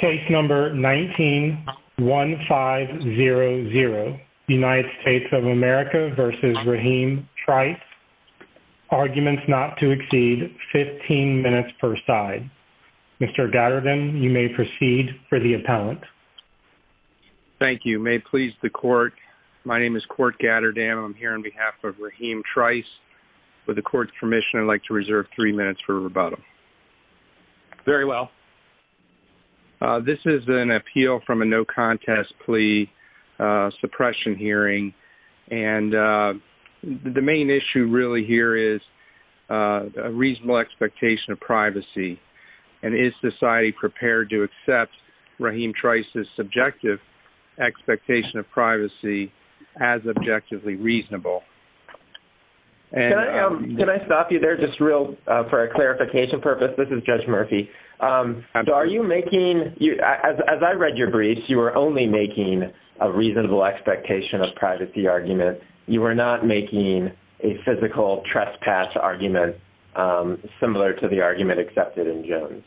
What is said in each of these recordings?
Case No. 19-1500, United States of America v. Rahim Trice, Arguments Not to Exceed, 15 minutes per side. Mr. Gatterdam, you may proceed for the appellant. Thank you. May it please the Court, my name is Court Gatterdam. I'm here on behalf of Rahim Trice. With the Court's permission, I'd like to reserve three minutes for rebuttal. Very well. This is an appeal from a no-contest plea suppression hearing, and the main issue really here is a reasonable expectation of privacy, and is society prepared to accept Rahim Trice's subjective expectation of privacy as objectively reasonable? Can I stop you there, just real, for a clarification purpose? This is Judge Murphy. As I read your briefs, you were only making a reasonable expectation of privacy argument. You were not making a physical trespass argument similar to the argument accepted in Jones.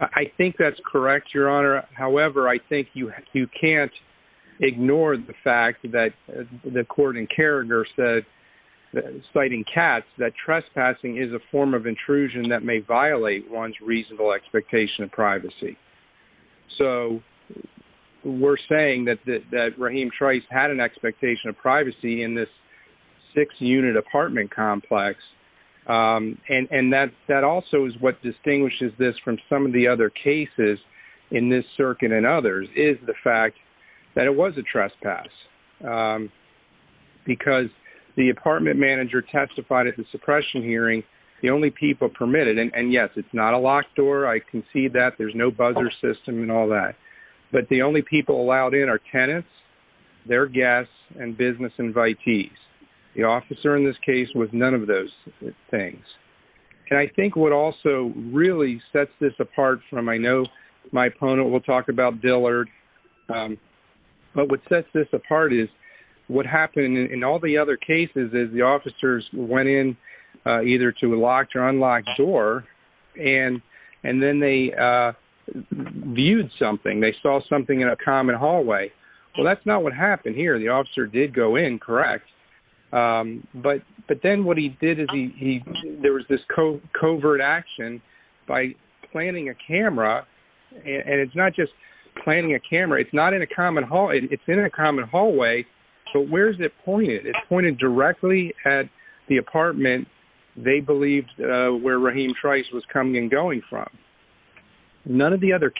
I think that's correct, Your Honor. However, I think you can't ignore the fact that the Court in Kierger said, citing Katz, that trespassing is a form of intrusion that may violate one's reasonable expectation of privacy. So we're saying that Rahim Trice had an expectation of privacy in this six-unit apartment complex, and that also is what distinguishes this from some of the other cases in this circuit and others, is the fact that it was a trespass. Because the apartment manager testified at the suppression hearing, the only people permitted, and yes, it's not a locked door, I concede that, there's no buzzer system and all that, but the only people allowed in are tenants, their guests, and business invitees. The officer in this case was none of those things. And I think what also really sets this apart from, I know my opponent will talk about Dillard, but what sets this apart is what happened in all the other cases is the officers went in either to a locked or unlocked door, and then they viewed something. They saw something in a common hallway. Well, that's not what happened here. The officer did go in, correct, but then what he did is there was this covert action by planting a camera, and it's not just planting a camera, it's not in a common hallway, it's in a common hallway, but where is it pointed? It's pointed directly at the apartment they believed where Rahim Trice was coming and going from. None of the other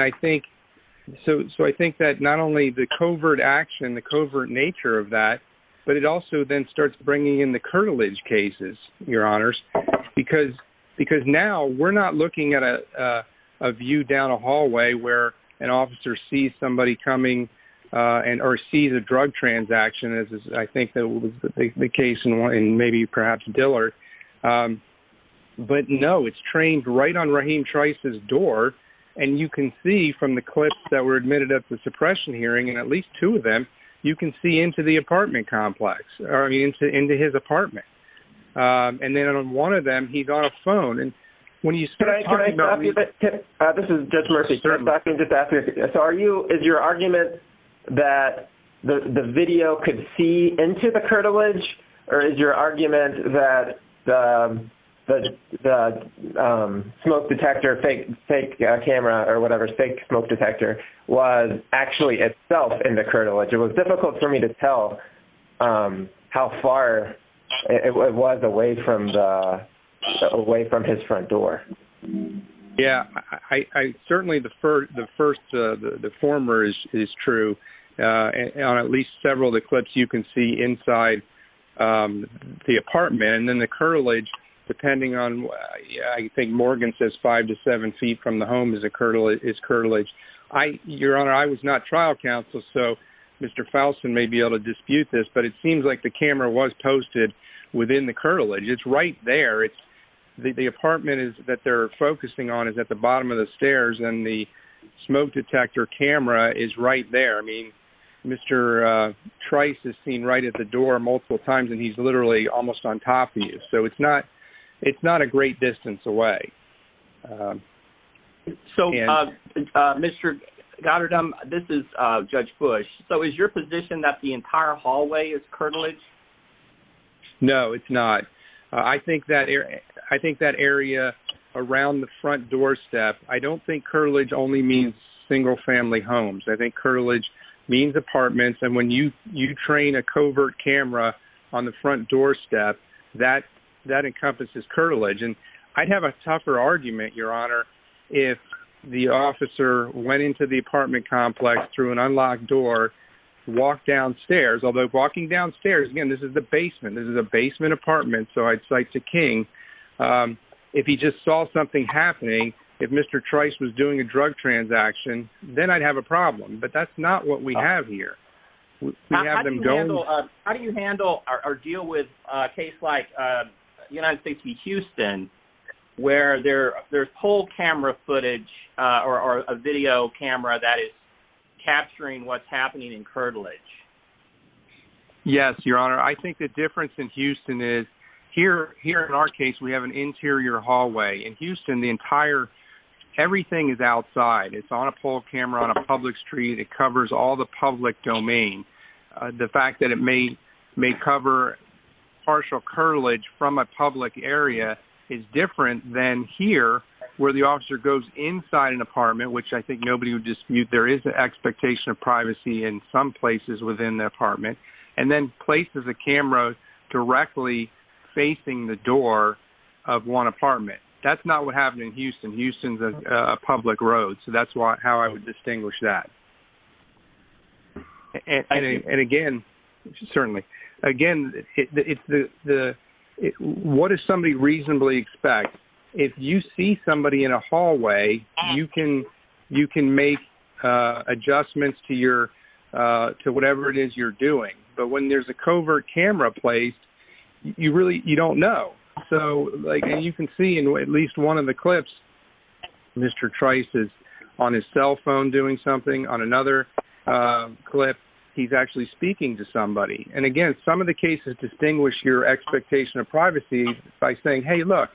I think that not only the covert action, the covert nature of that, but it also then starts bringing in the curtilage cases, your honors, because now we're not looking at a view down a hallway where an officer sees somebody coming or sees a drug transaction, I think that was the case in maybe perhaps Dillard, but no, it's trained right on Rahim and at least two of them, you can see into the apartment complex or into his apartment, and then on one of them, he got a phone, and when you start talking about this, is your argument that the video could see into the curtilage, or is your argument that the smoke detector was actually itself in the curtilage? It was difficult for me to tell how far it was away from his front door. Yeah, I certainly, the first, the former is true, and on at least several of the clips you can see inside the apartment, and then the curtilage, depending on, I think Morgan says five to seven feet from the home is curtilage. Your honor, I was not trial counsel, so Mr. Fouston may be able to dispute this, but it seems like the camera was posted within the curtilage. It's right there. The apartment that they're focusing on is at the bottom of the stairs, and the smoke detector camera is right there. I mean, Mr. Trice is seen right at the door multiple times, and he's literally almost on top of you, so it's not a great distance away. So Mr. Goddard, this is Judge Bush. So is your position that the entire hallway is curtilage? No, it's not. I think that area around the front doorstep, I don't think curtilage only means single family homes. I think curtilage means apartments, and when you train a covert camera on the front doorstep, that encompasses curtilage, and I'd have a tougher argument, your honor, if the officer went into the apartment complex through an unlocked door, walked downstairs, although walking downstairs, again, this is the basement. This is a basement apartment, so I'd say it's a king. If he just saw something happening, if Mr. Trice was doing a drug transaction, then I'd have a problem, but that's not what we have here. How do you handle or deal with a case like United States v. Houston, where there's pole camera footage or a video camera that is capturing what's happening in curtilage? Yes, your honor. I think the difference in Houston is, here in our case, we have an interior hallway. In Houston, everything is outside. It's on a pole camera on a public street. It covers all the public domain. The fact that it may cover partial curtilage from a public area is different than here, where the officer goes inside an apartment, which I think nobody would dispute. There is an expectation of privacy in some places within the apartment, and then places the camera directly facing the door of one apartment. That's not what happened in Houston. Houston's a public road, so that's how I would distinguish that. Again, what does somebody reasonably expect? If you see somebody in a hallway, you can make adjustments to whatever it is you're doing, but when there's a covert camera placed, you don't know. You can see in at least one of the clips, Mr. Trice is on his cell phone doing something. On another clip, he's actually speaking to somebody. Again, some of the cases distinguish your expectation of privacy by saying, hey, look,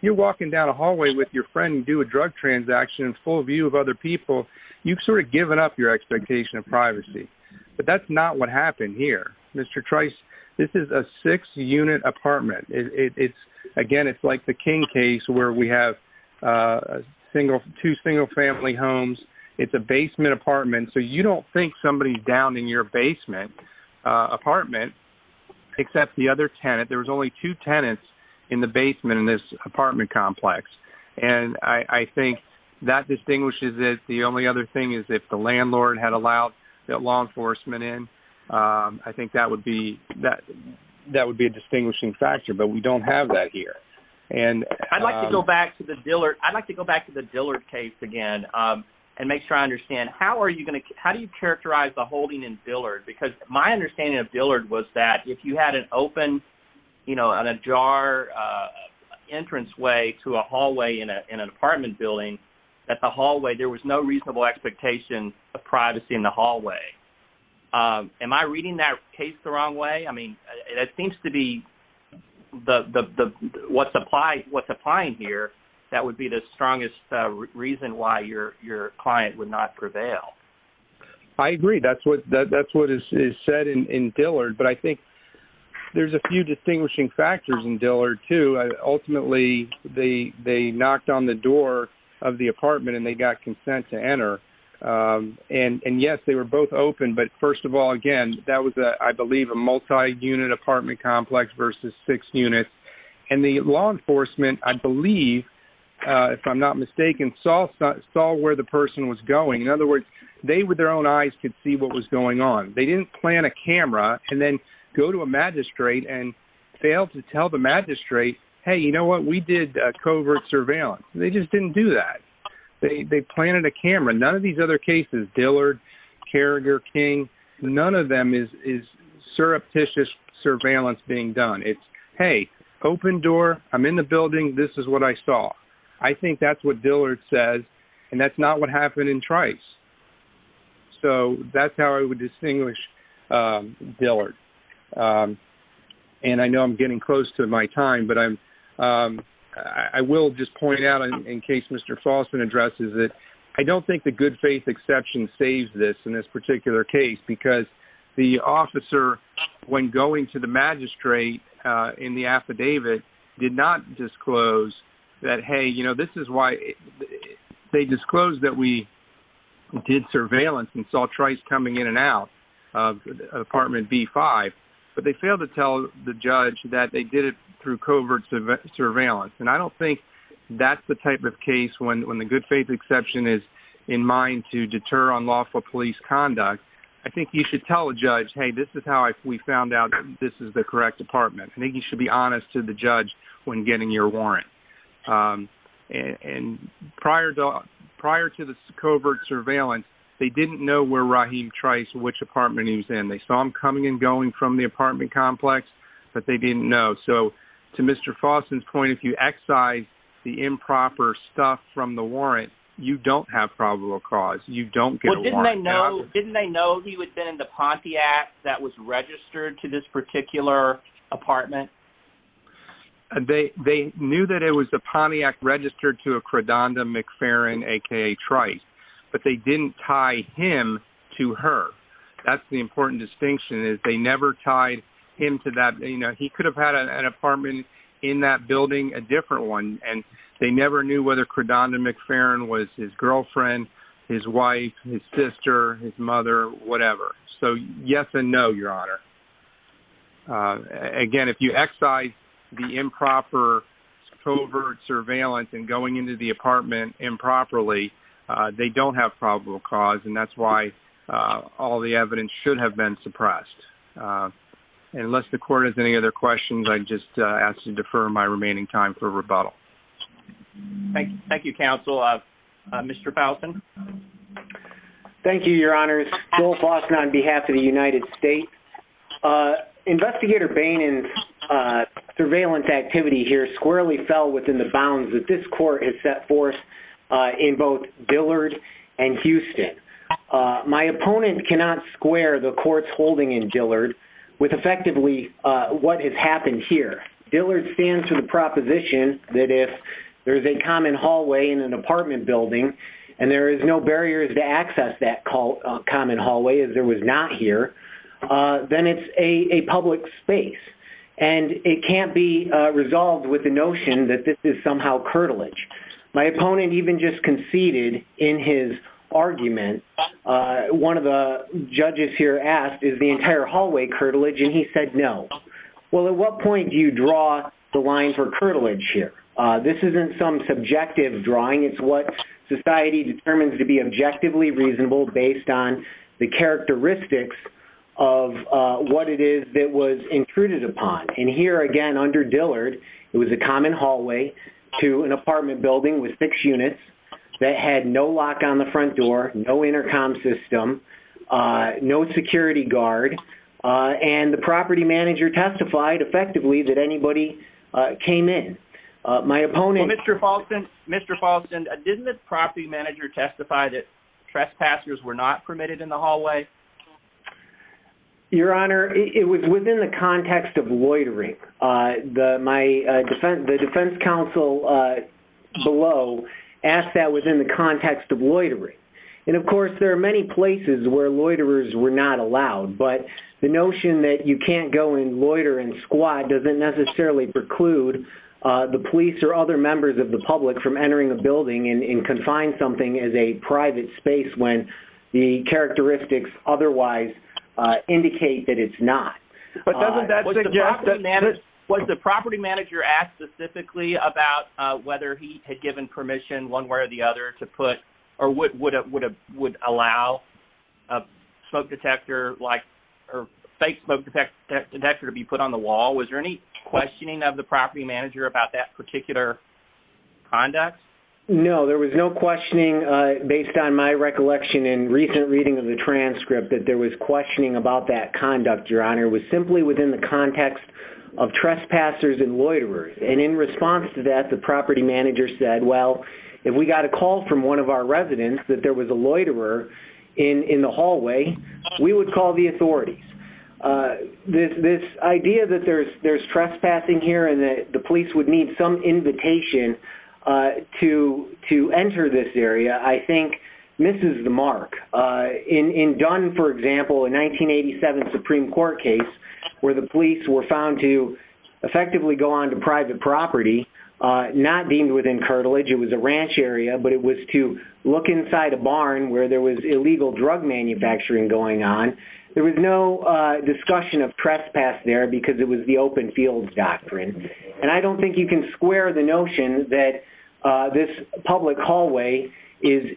you're walking down a hallway with your friend and doing a drug transaction in full view of other people. You've sort of given up your expectation of privacy, but that's not what happened here. Mr. Trice, this is a six-unit apartment. Again, it's like the King case, where we have two single family homes. It's a basement apartment, so you don't think somebody's down in your basement apartment, except the other tenant. There was only two tenants in the basement in this apartment complex, and I think that distinguishes it. The only other thing is if the landlord had allowed the law enforcement in. I think that would be a distinguishing factor, but we don't have that here. I'd like to go back to the Dillard case again and make sure I understand. How do you characterize the holding in Dillard? Because my understanding of Dillard was that if you had an open, an ajar entranceway to a hallway in an apartment building, at the hallway, there was no reasonable expectation of privacy in the hallway. Am I reading that case the wrong way? I mean, it seems to be what's applying here, that would be the strongest reason why your client would not prevail. I agree. That's what is said in Dillard, but I think there's a few distinguishing factors in Dillard, too. Ultimately, they knocked on the door of the apartment and they got consent to enter. Yes, they were both open, but first of all, again, that was, I believe, a multi-unit apartment complex versus six units. And the law enforcement, I believe, if I'm not mistaken, saw where the person was going. In other words, they, with their own eyes, could see what was going on. They didn't plant a camera and then go to a magistrate and fail to tell the magistrate, hey, you know what, we did covert surveillance. They just didn't do that. They planted a camera. None of these other cases, Dillard, Carriger, King, none of them is surreptitious surveillance being done. It's, hey, open door, I'm in the building, this is what I saw. I think that's what Dillard says, and that's not what happened in Trice. So that's how I would distinguish Dillard. And I know I'm getting close to my time, but I will just point out, in case Mr. Faustin addresses it, I don't think the good faith exception saves this in this particular case, because the officer, when going to the magistrate in the affidavit, did not disclose that, hey, you know, this is why, they disclosed that we did surveillance and saw Trice coming in and out of apartment B5, but they failed to tell the judge that they did it through covert surveillance. And I don't think that's the type of case when the good faith exception is in mind to deter unlawful police conduct, I think you should tell the judge, hey, this is how we found out this is the correct apartment. I think you should be honest to the judge when getting your warrant. And prior to the covert surveillance, they didn't know where Rahim Trice, which apartment he was in. They saw him coming and going from the apartment complex, but they didn't know. So to Mr. Faustin's point, if you excise the improper stuff from the warrant, you don't have probable cause, you don't get a warrant. Didn't they know he had been in the Pontiac that was registered to this particular apartment? They knew that it was a Pontiac registered to a Credanda McFerrin, aka Trice, but they didn't tie him to her. That's the important distinction, is they never tied him to that, he could have had an apartment in that building, a different one, and they never knew whether Credanda McFerrin was his girlfriend, his wife, his sister, his mother, whatever. So yes and no, Your Honor. Again, if you excise the improper covert surveillance and going into the apartment improperly, they don't have probable cause, and that's why all the other questions, I just ask you to defer my remaining time for rebuttal. Thank you, counsel. Mr. Faustin. Thank you, Your Honors. Joel Faustin on behalf of the United States. Investigator Bain and surveillance activity here squarely fell within the bounds that this court has set forth in both Dillard and Houston. My opponent cannot square the courts holding in Dillard with effectively what has happened here. Dillard stands to the proposition that if there's a common hallway in an apartment building, and there is no barriers to access that common hallway, as there was not here, then it's a public space. And it can't be resolved with the notion that this is somehow curtilage. My opponent even just conceded in his argument, one of the judges here asked, is the entire hallway curtilage? And he said no. Well, at what point do you draw the line for curtilage here? This isn't some subjective drawing. It's what society determines to be objectively reasonable based on the characteristics of what it is that was intruded upon. And here again, under Dillard, it was a common hallway to an apartment building with six units that had no lock on the front door, no intercom system, no security guard. And the property manager testified effectively that anybody came in. My opponent- Well, Mr. Paulson, didn't the property manager testify that trespassers were not permitted in the hallway? Your Honor, it was within the context of loitering. My defense- the defense counsel below asked that within the context of loitering. And of course, there are many places where loiterers were not allowed. But the notion that you can't go and loiter in squad doesn't necessarily preclude the police or other members of the public from entering a building and confine something as a private space when the characteristics otherwise indicate that it's not. But doesn't that suggest that- Was the property manager asked specifically about whether he had given permission one way or the other to put- or would allow a smoke detector or fake smoke detector to be put on the wall? Was there any questioning of the property manager about that particular conduct? No, there was no questioning based on my recollection in recent reading of the conduct, Your Honor. It was simply within the context of trespassers and loiterers. And in response to that, the property manager said, well, if we got a call from one of our residents that there was a loiterer in the hallway, we would call the authorities. This idea that there's trespassing here and that the police would need some invitation to enter this area, I think, Supreme Court case where the police were found to effectively go on to private property, not deemed within curtilage. It was a ranch area, but it was to look inside a barn where there was illegal drug manufacturing going on. There was no discussion of trespass there because it was the open field doctrine. And I don't think you can square the notion that this public hallway is-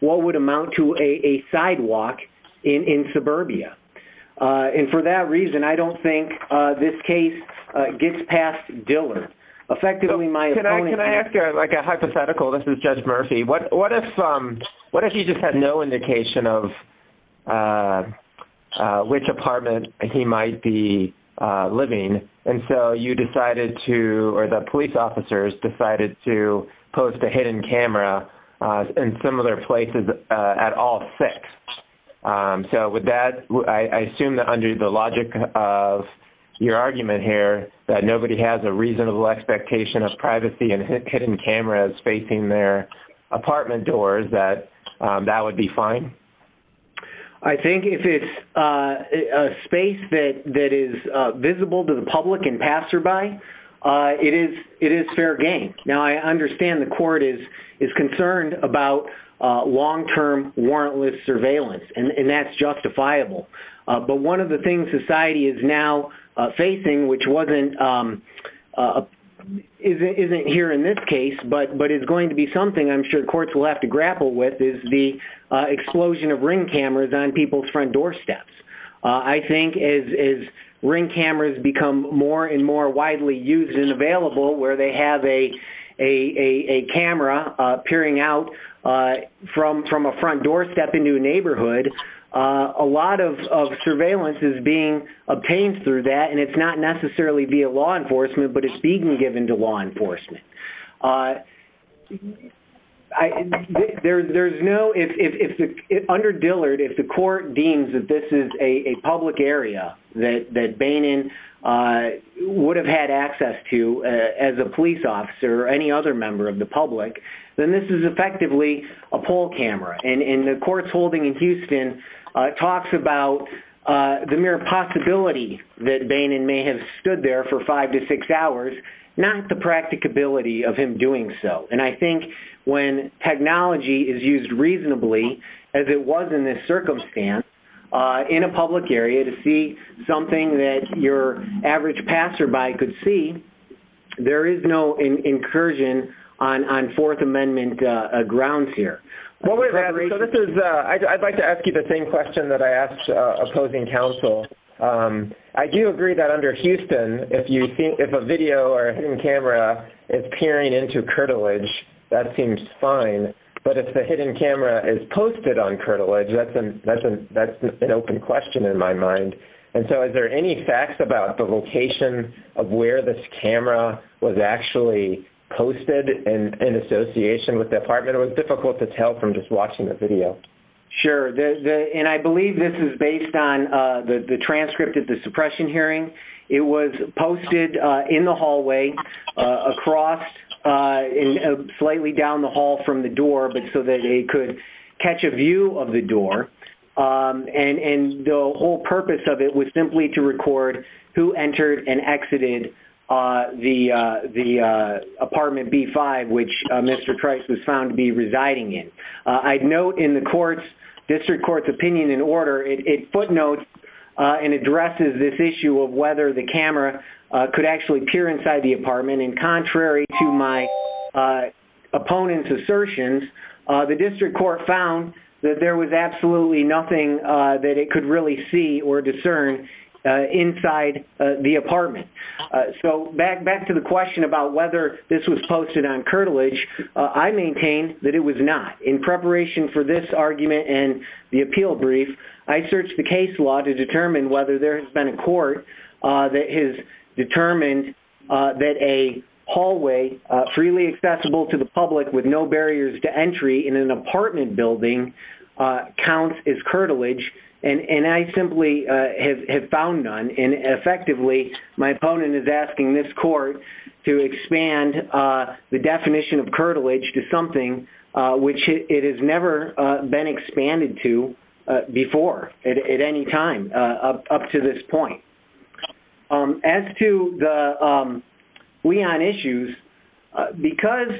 what would amount to a sidewalk in suburbia. And for that reason, I don't think this case gets past Diller. Effectively, my- Can I ask a hypothetical? This is Judge Murphy. What if you just had no indication of which apartment he might be living? And so you at all six. So with that, I assume that under the logic of your argument here, that nobody has a reasonable expectation of privacy and hidden cameras facing their apartment doors, that would be fine? I think if it's a space that is visible to the public and passerby, it is fair game. Now, I understand the court is concerned about long-term warrantless surveillance, and that's justifiable. But one of the things society is now facing, which wasn't- isn't here in this case, but is going to be something I'm sure courts will have to grapple with is the explosion of ring cameras on people's front doorsteps. I think as ring cameras become more and more widely used and available, where they have a camera peering out from a front doorstep into a neighborhood, a lot of surveillance is being obtained through that. And it's not necessarily via law enforcement, but it's being given to law enforcement. There's no- Under Dillard, if the court deems that this is a public area that Bainon would have had access to as a police officer or any other member of the public, then this is effectively a poll camera. And the courts holding in Houston talks about the mere possibility that Bainon may have stood there for five to six hours, not the practicability of him doing so. And I think when technology is used reasonably, as it was in this circumstance, in a public area to see something that your average passerby could see, there is no incursion on Fourth Amendment grounds here. What would- So this is- I'd like to ask you the same question that I asked opposing counsel. I do agree that under Houston, if a video or a hidden camera is peering into curtilage, that seems fine. But if the hidden camera is posted on curtilage, that's an open question in my mind. And so is there any facts about the location of where this camera was actually posted in association with the apartment? It was difficult to tell from just watching the video. Sure. And I believe this is based on the transcript of the suppression hearing. It was posted in the hallway across, slightly down the hall from the door, but so that they could catch a view of the door. And the whole purpose of it was simply to record who entered and exited the apartment B5, which Mr. Trice was found to be residing in. I'd note in the camera could actually peer inside the apartment. And contrary to my opponent's assertions, the district court found that there was absolutely nothing that it could really see or discern inside the apartment. So back to the question about whether this was posted on curtilage, I maintained that it was not. In preparation for this argument and the appeal brief, I searched the case law to determine whether there has been a court that has determined that a hallway freely accessible to the public with no barriers to entry in an apartment building counts as curtilage. And I simply have found none. And effectively, my opponent is asking this court to expand the definition of curtilage to something which it has never been expanded to before at any time up to this point. As to the Leon issues, because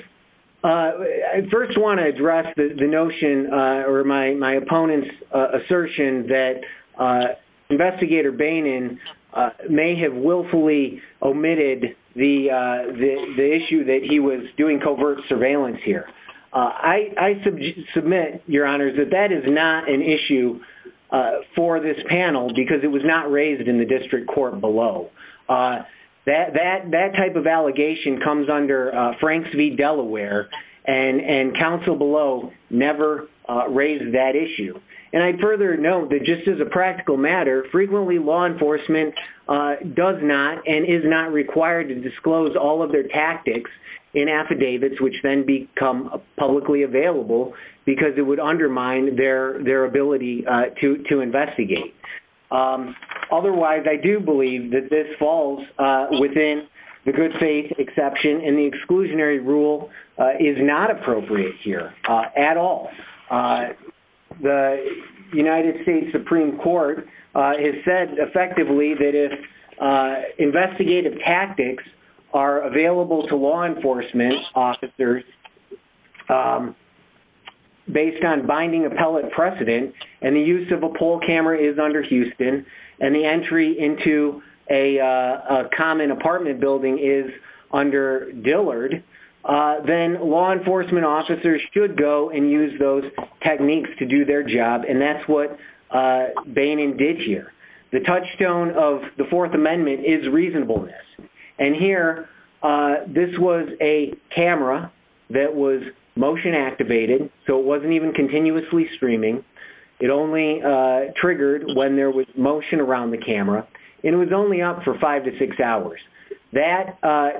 I first want to address the notion or my opponent's assertion that investigator Bainon may have willfully omitted the issue that he was doing covert surveillance here. I submit, your honors, that that is not an issue for this panel because it was not raised in the district court below. That type of allegation comes under Franks v. Delaware and counsel below never raised that issue. And I further note that just as a practical matter, frequently law enforcement does not and is not required to disclose all of their tactics in affidavits which then become publicly available because it would undermine their ability to investigate. Otherwise, I do believe that this falls within the good faith exception and the exclusionary rule is not appropriate here at all. The United States Supreme Court has said effectively that if investigative tactics are available to law enforcement officers based on binding appellate precedent and the use of a poll camera is under Houston and the entry into a common apartment building is under Dillard, then law enforcement officers should go and use those techniques to do their job and that's what the Fourth Amendment is reasonableness. And here, this was a camera that was motion activated, so it wasn't even continuously streaming. It only triggered when there was motion around the camera and it was only up for five to six hours. That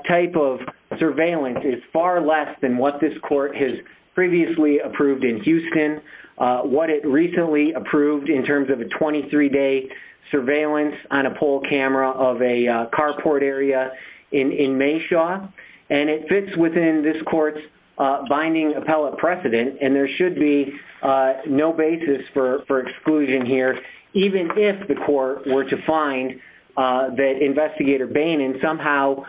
type of surveillance is far less than what this court has previously approved in Houston. What it recently approved in terms of a 23-day surveillance on a poll camera of a carport area in Mayshaw and it fits within this court's binding appellate precedent and there should be no basis for exclusion here even if the court were to find that Investigator Bainon somehow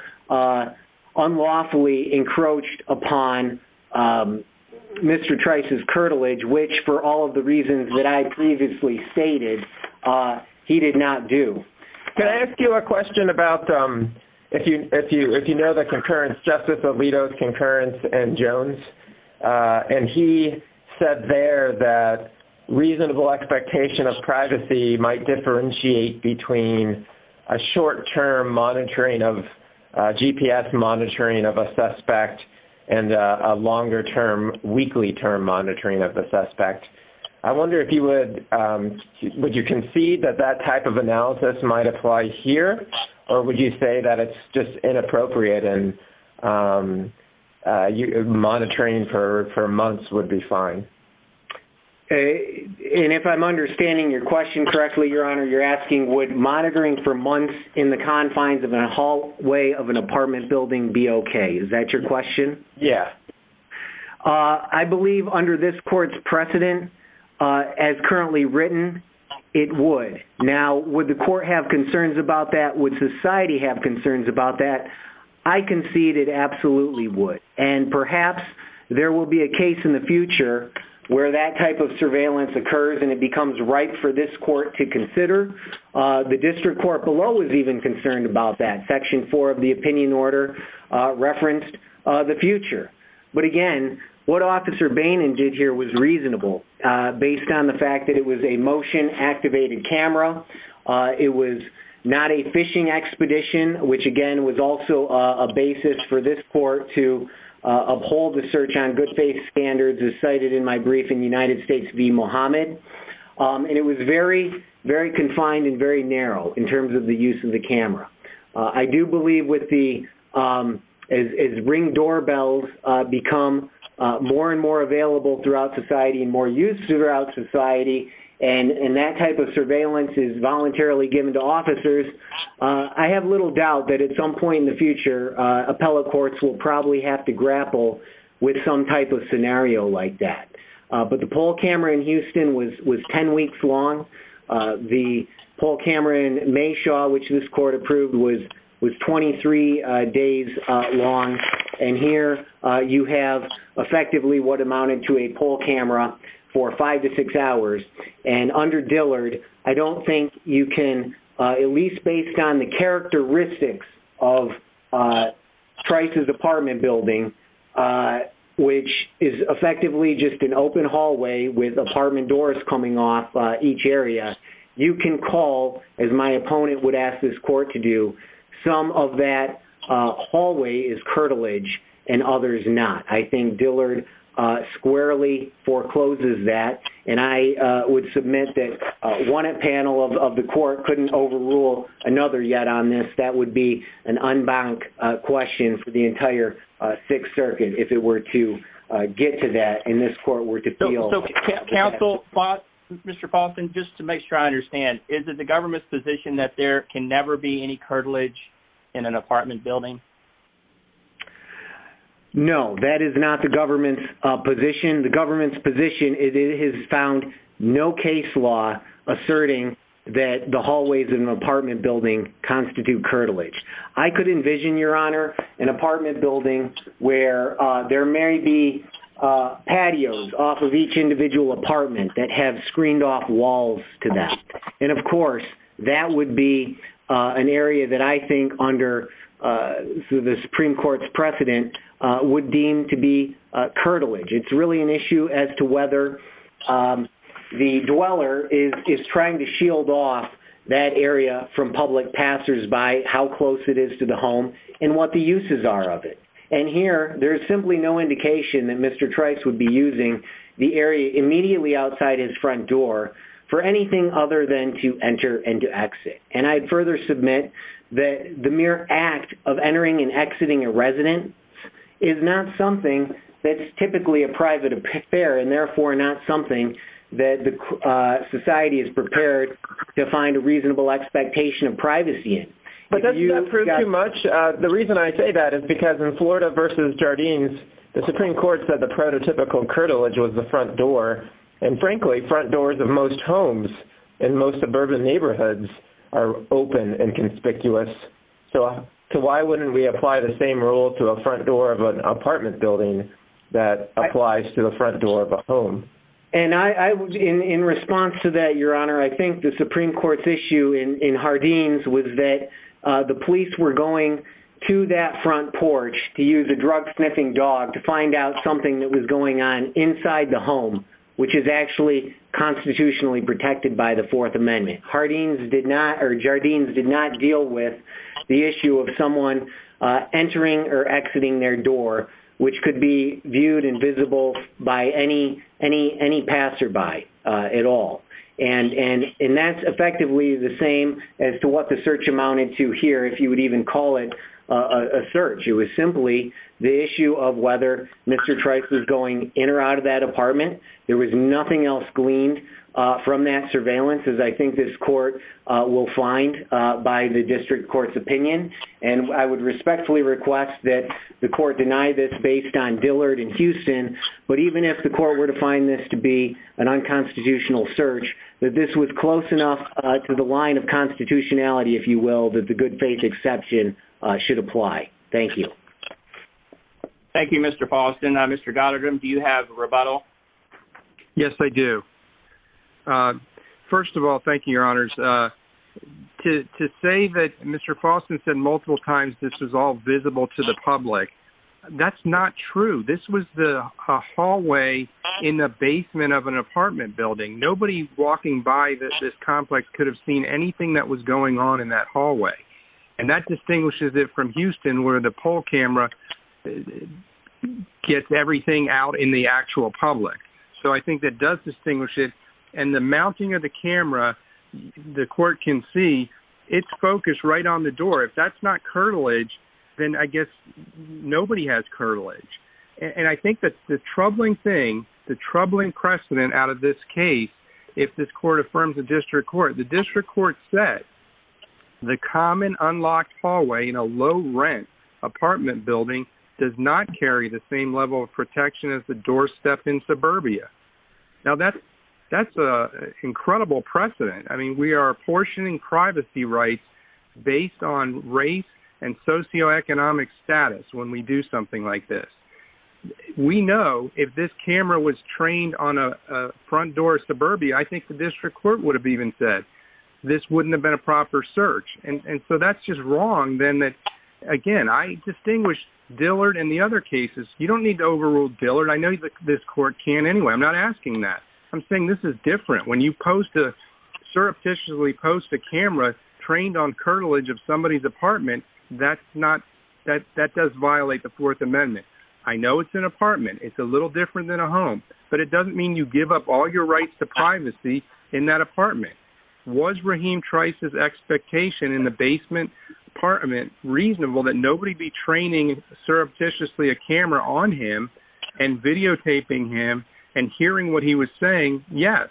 unlawfully encroached upon Mr. Trice's curtilage which for all of the reasons that I previously stated, he did not do. Can I ask you a question about, if you know the concurrence, Justice Alito's concurrence and Jones and he said there that reasonable expectation of privacy might differentiate between a short-term monitoring of GPS monitoring of a suspect and a longer-term, weekly-term monitoring of the suspect. I wonder if you would concede that that type of analysis might apply here or would you say that it's just inappropriate and monitoring for months would be fine? And if I'm understanding your question correctly, Your Honor, you're asking would monitoring for months in the confines of a hallway of I believe under this court's precedent as currently written, it would. Now, would the court have concerns about that? Would society have concerns about that? I concede it absolutely would and perhaps there will be a case in the future where that type of surveillance occurs and it becomes ripe for this court to consider. The district court below is even concerned about that. Section 4 of the opinion order referenced the future. But again, what Officer Bainan did here was reasonable based on the fact that it was a motion-activated camera. It was not a fishing expedition, which again was also a basis for this court to uphold the search on good faith standards as cited in my brief in United States v. Muhammad. And it was very, very confined and very narrow in terms of the use of the camera. I do believe as ring doorbells become more and more available throughout society and more used throughout society and that type of surveillance is voluntarily given to officers, I have little doubt that at some point in the future, appellate courts will probably have to grapple with some type of scenario like that. But the Paul Cameron Houston was 10 weeks long. The Paul Cameron Mayshaw which this court approved was 23 days long. And here you have effectively what amounted to a Paul Cameron for five to six hours. And under Dillard, I don't think you can at least based on the characteristics of Trice's apartment building, which is effectively just an open hallway with apartment doors coming off each area, you can call, as my opponent would ask this court to do, some of that hallway is curtilage and others not. I think Dillard squarely forecloses that. And I would submit that one panel of the court couldn't overrule another yet on this. That would be an unbanked question for the entire Sixth Circuit if it were to get to that in this court were to feel counsel fought Mr. Boston, just to make sure I understand, is it the government's position that there can never be any curtilage in an apartment building? No, that is not the government's position. The government's position is it has found no case law asserting that the hallways in an apartment building constitute curtilage. I could envision, Your Honor, an apartment building where there may be patios off of each individual apartment that have screened off walls to them. And of course, that would be an area that I think under the Supreme Court's precedent would deem to be curtilage. It's really an issue as to whether the dweller is trying to shield off that area from public passers by how close it is to the home and what the uses are of it. And here, there's simply no indication that Mr. Trice would be using the area immediately outside his front door for anything other than to enter and to exit. And I'd further submit that the mere act of entering and exiting a residence is not something that's typically a private affair and therefore not something that the But doesn't that prove too much? The reason I say that is because in Florida versus Jardines, the Supreme Court said the prototypical curtilage was the front door. And frankly, front doors of most homes in most suburban neighborhoods are open and conspicuous. So why wouldn't we apply the same rule to a front door of an apartment building that applies to the front door of a home? And in response to that, Your Honor, I think the police were going to that front porch to use a drug sniffing dog to find out something that was going on inside the home, which is actually constitutionally protected by the Fourth Amendment. Jardines did not deal with the issue of someone entering or exiting their door, which could be viewed and visible by any passerby at all. And that's effectively the same as to what the search amounted to here, if you would even call it a search. It was simply the issue of whether Mr. Trice was going in or out of that apartment. There was nothing else gleaned from that surveillance as I think this court will find by the district court's opinion. And I would respectfully request that the court deny this based on Dillard and Houston. But even if the court were to find this to be an unconstitutional search, that this was close enough to the line of constitutionality, if you will, that the good faith exception should apply. Thank you. Thank you, Mr. Paulson. Mr. Goddard, do you have a rebuttal? Yes, I do. First of all, thank you, Your Honors. To say that Mr. Paulson said multiple times this is all visible to the public. That's not true. This was the hallway in the basement of an apartment. There was nothing that was going on in that hallway. And that distinguishes it from Houston where the poll camera gets everything out in the actual public. So I think that does distinguish it. And the mounting of the camera, the court can see it's focused right on the door. If that's not curtilage, then I guess nobody has curtilage. And I think that the troubling thing, the troubling precedent out of this case, if this court affirms the district court, the district court said the common unlocked hallway in a low rent apartment building does not carry the same level of protection as the doorstep in suburbia. Now, that's an incredible precedent. I mean, we are apportioning privacy rights based on race and socioeconomic status when we do something like this. We know if this camera was trained on a front door suburbia, I think the district court would have even said this wouldn't have been a proper search. And so that's just wrong then that, again, I distinguish Dillard and the other cases, you don't need to overrule Dillard. I know this court can anyway. I'm not asking that. I'm saying this is different. When you post a, surreptitiously post a camera trained on curtilage of somebody's apartment, that's not, that does violate the fourth amendment. I know it's an apartment. It's a little different than a home, but it doesn't mean you give up all your rights to privacy in that apartment. Was Raheem Trice's expectation in the basement apartment reasonable that nobody be training surreptitiously a camera on him and videotaping him and hearing what he was saying? Yes.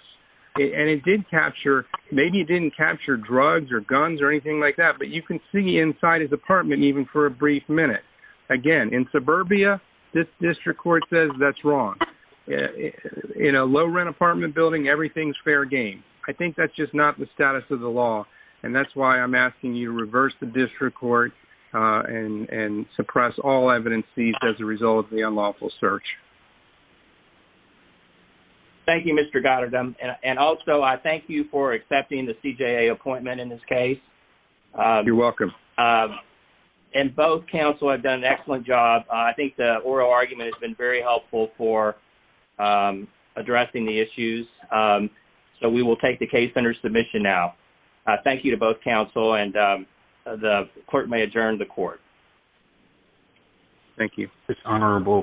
And it did capture, maybe it didn't capture drugs or guns or anything like that, but you can see inside his apartment even for a brief minute. Again, in suburbia, this district court says that's wrong. In a low rent apartment building, everything's fair game. I think that's just not the status of the law. And that's why I'm asking you to reverse the district court and suppress all evidence as a result of the unlawful search. Thank you, Mr. Goddard. And also I thank you for accepting the CJA appointment in this case. You're welcome. And both counsel have done an excellent job. I think the oral argument has been very helpful for addressing the issues. So we will take the case under submission now. Thank you to both counsel and the court may adjourn the court. Thank you. It's honorable.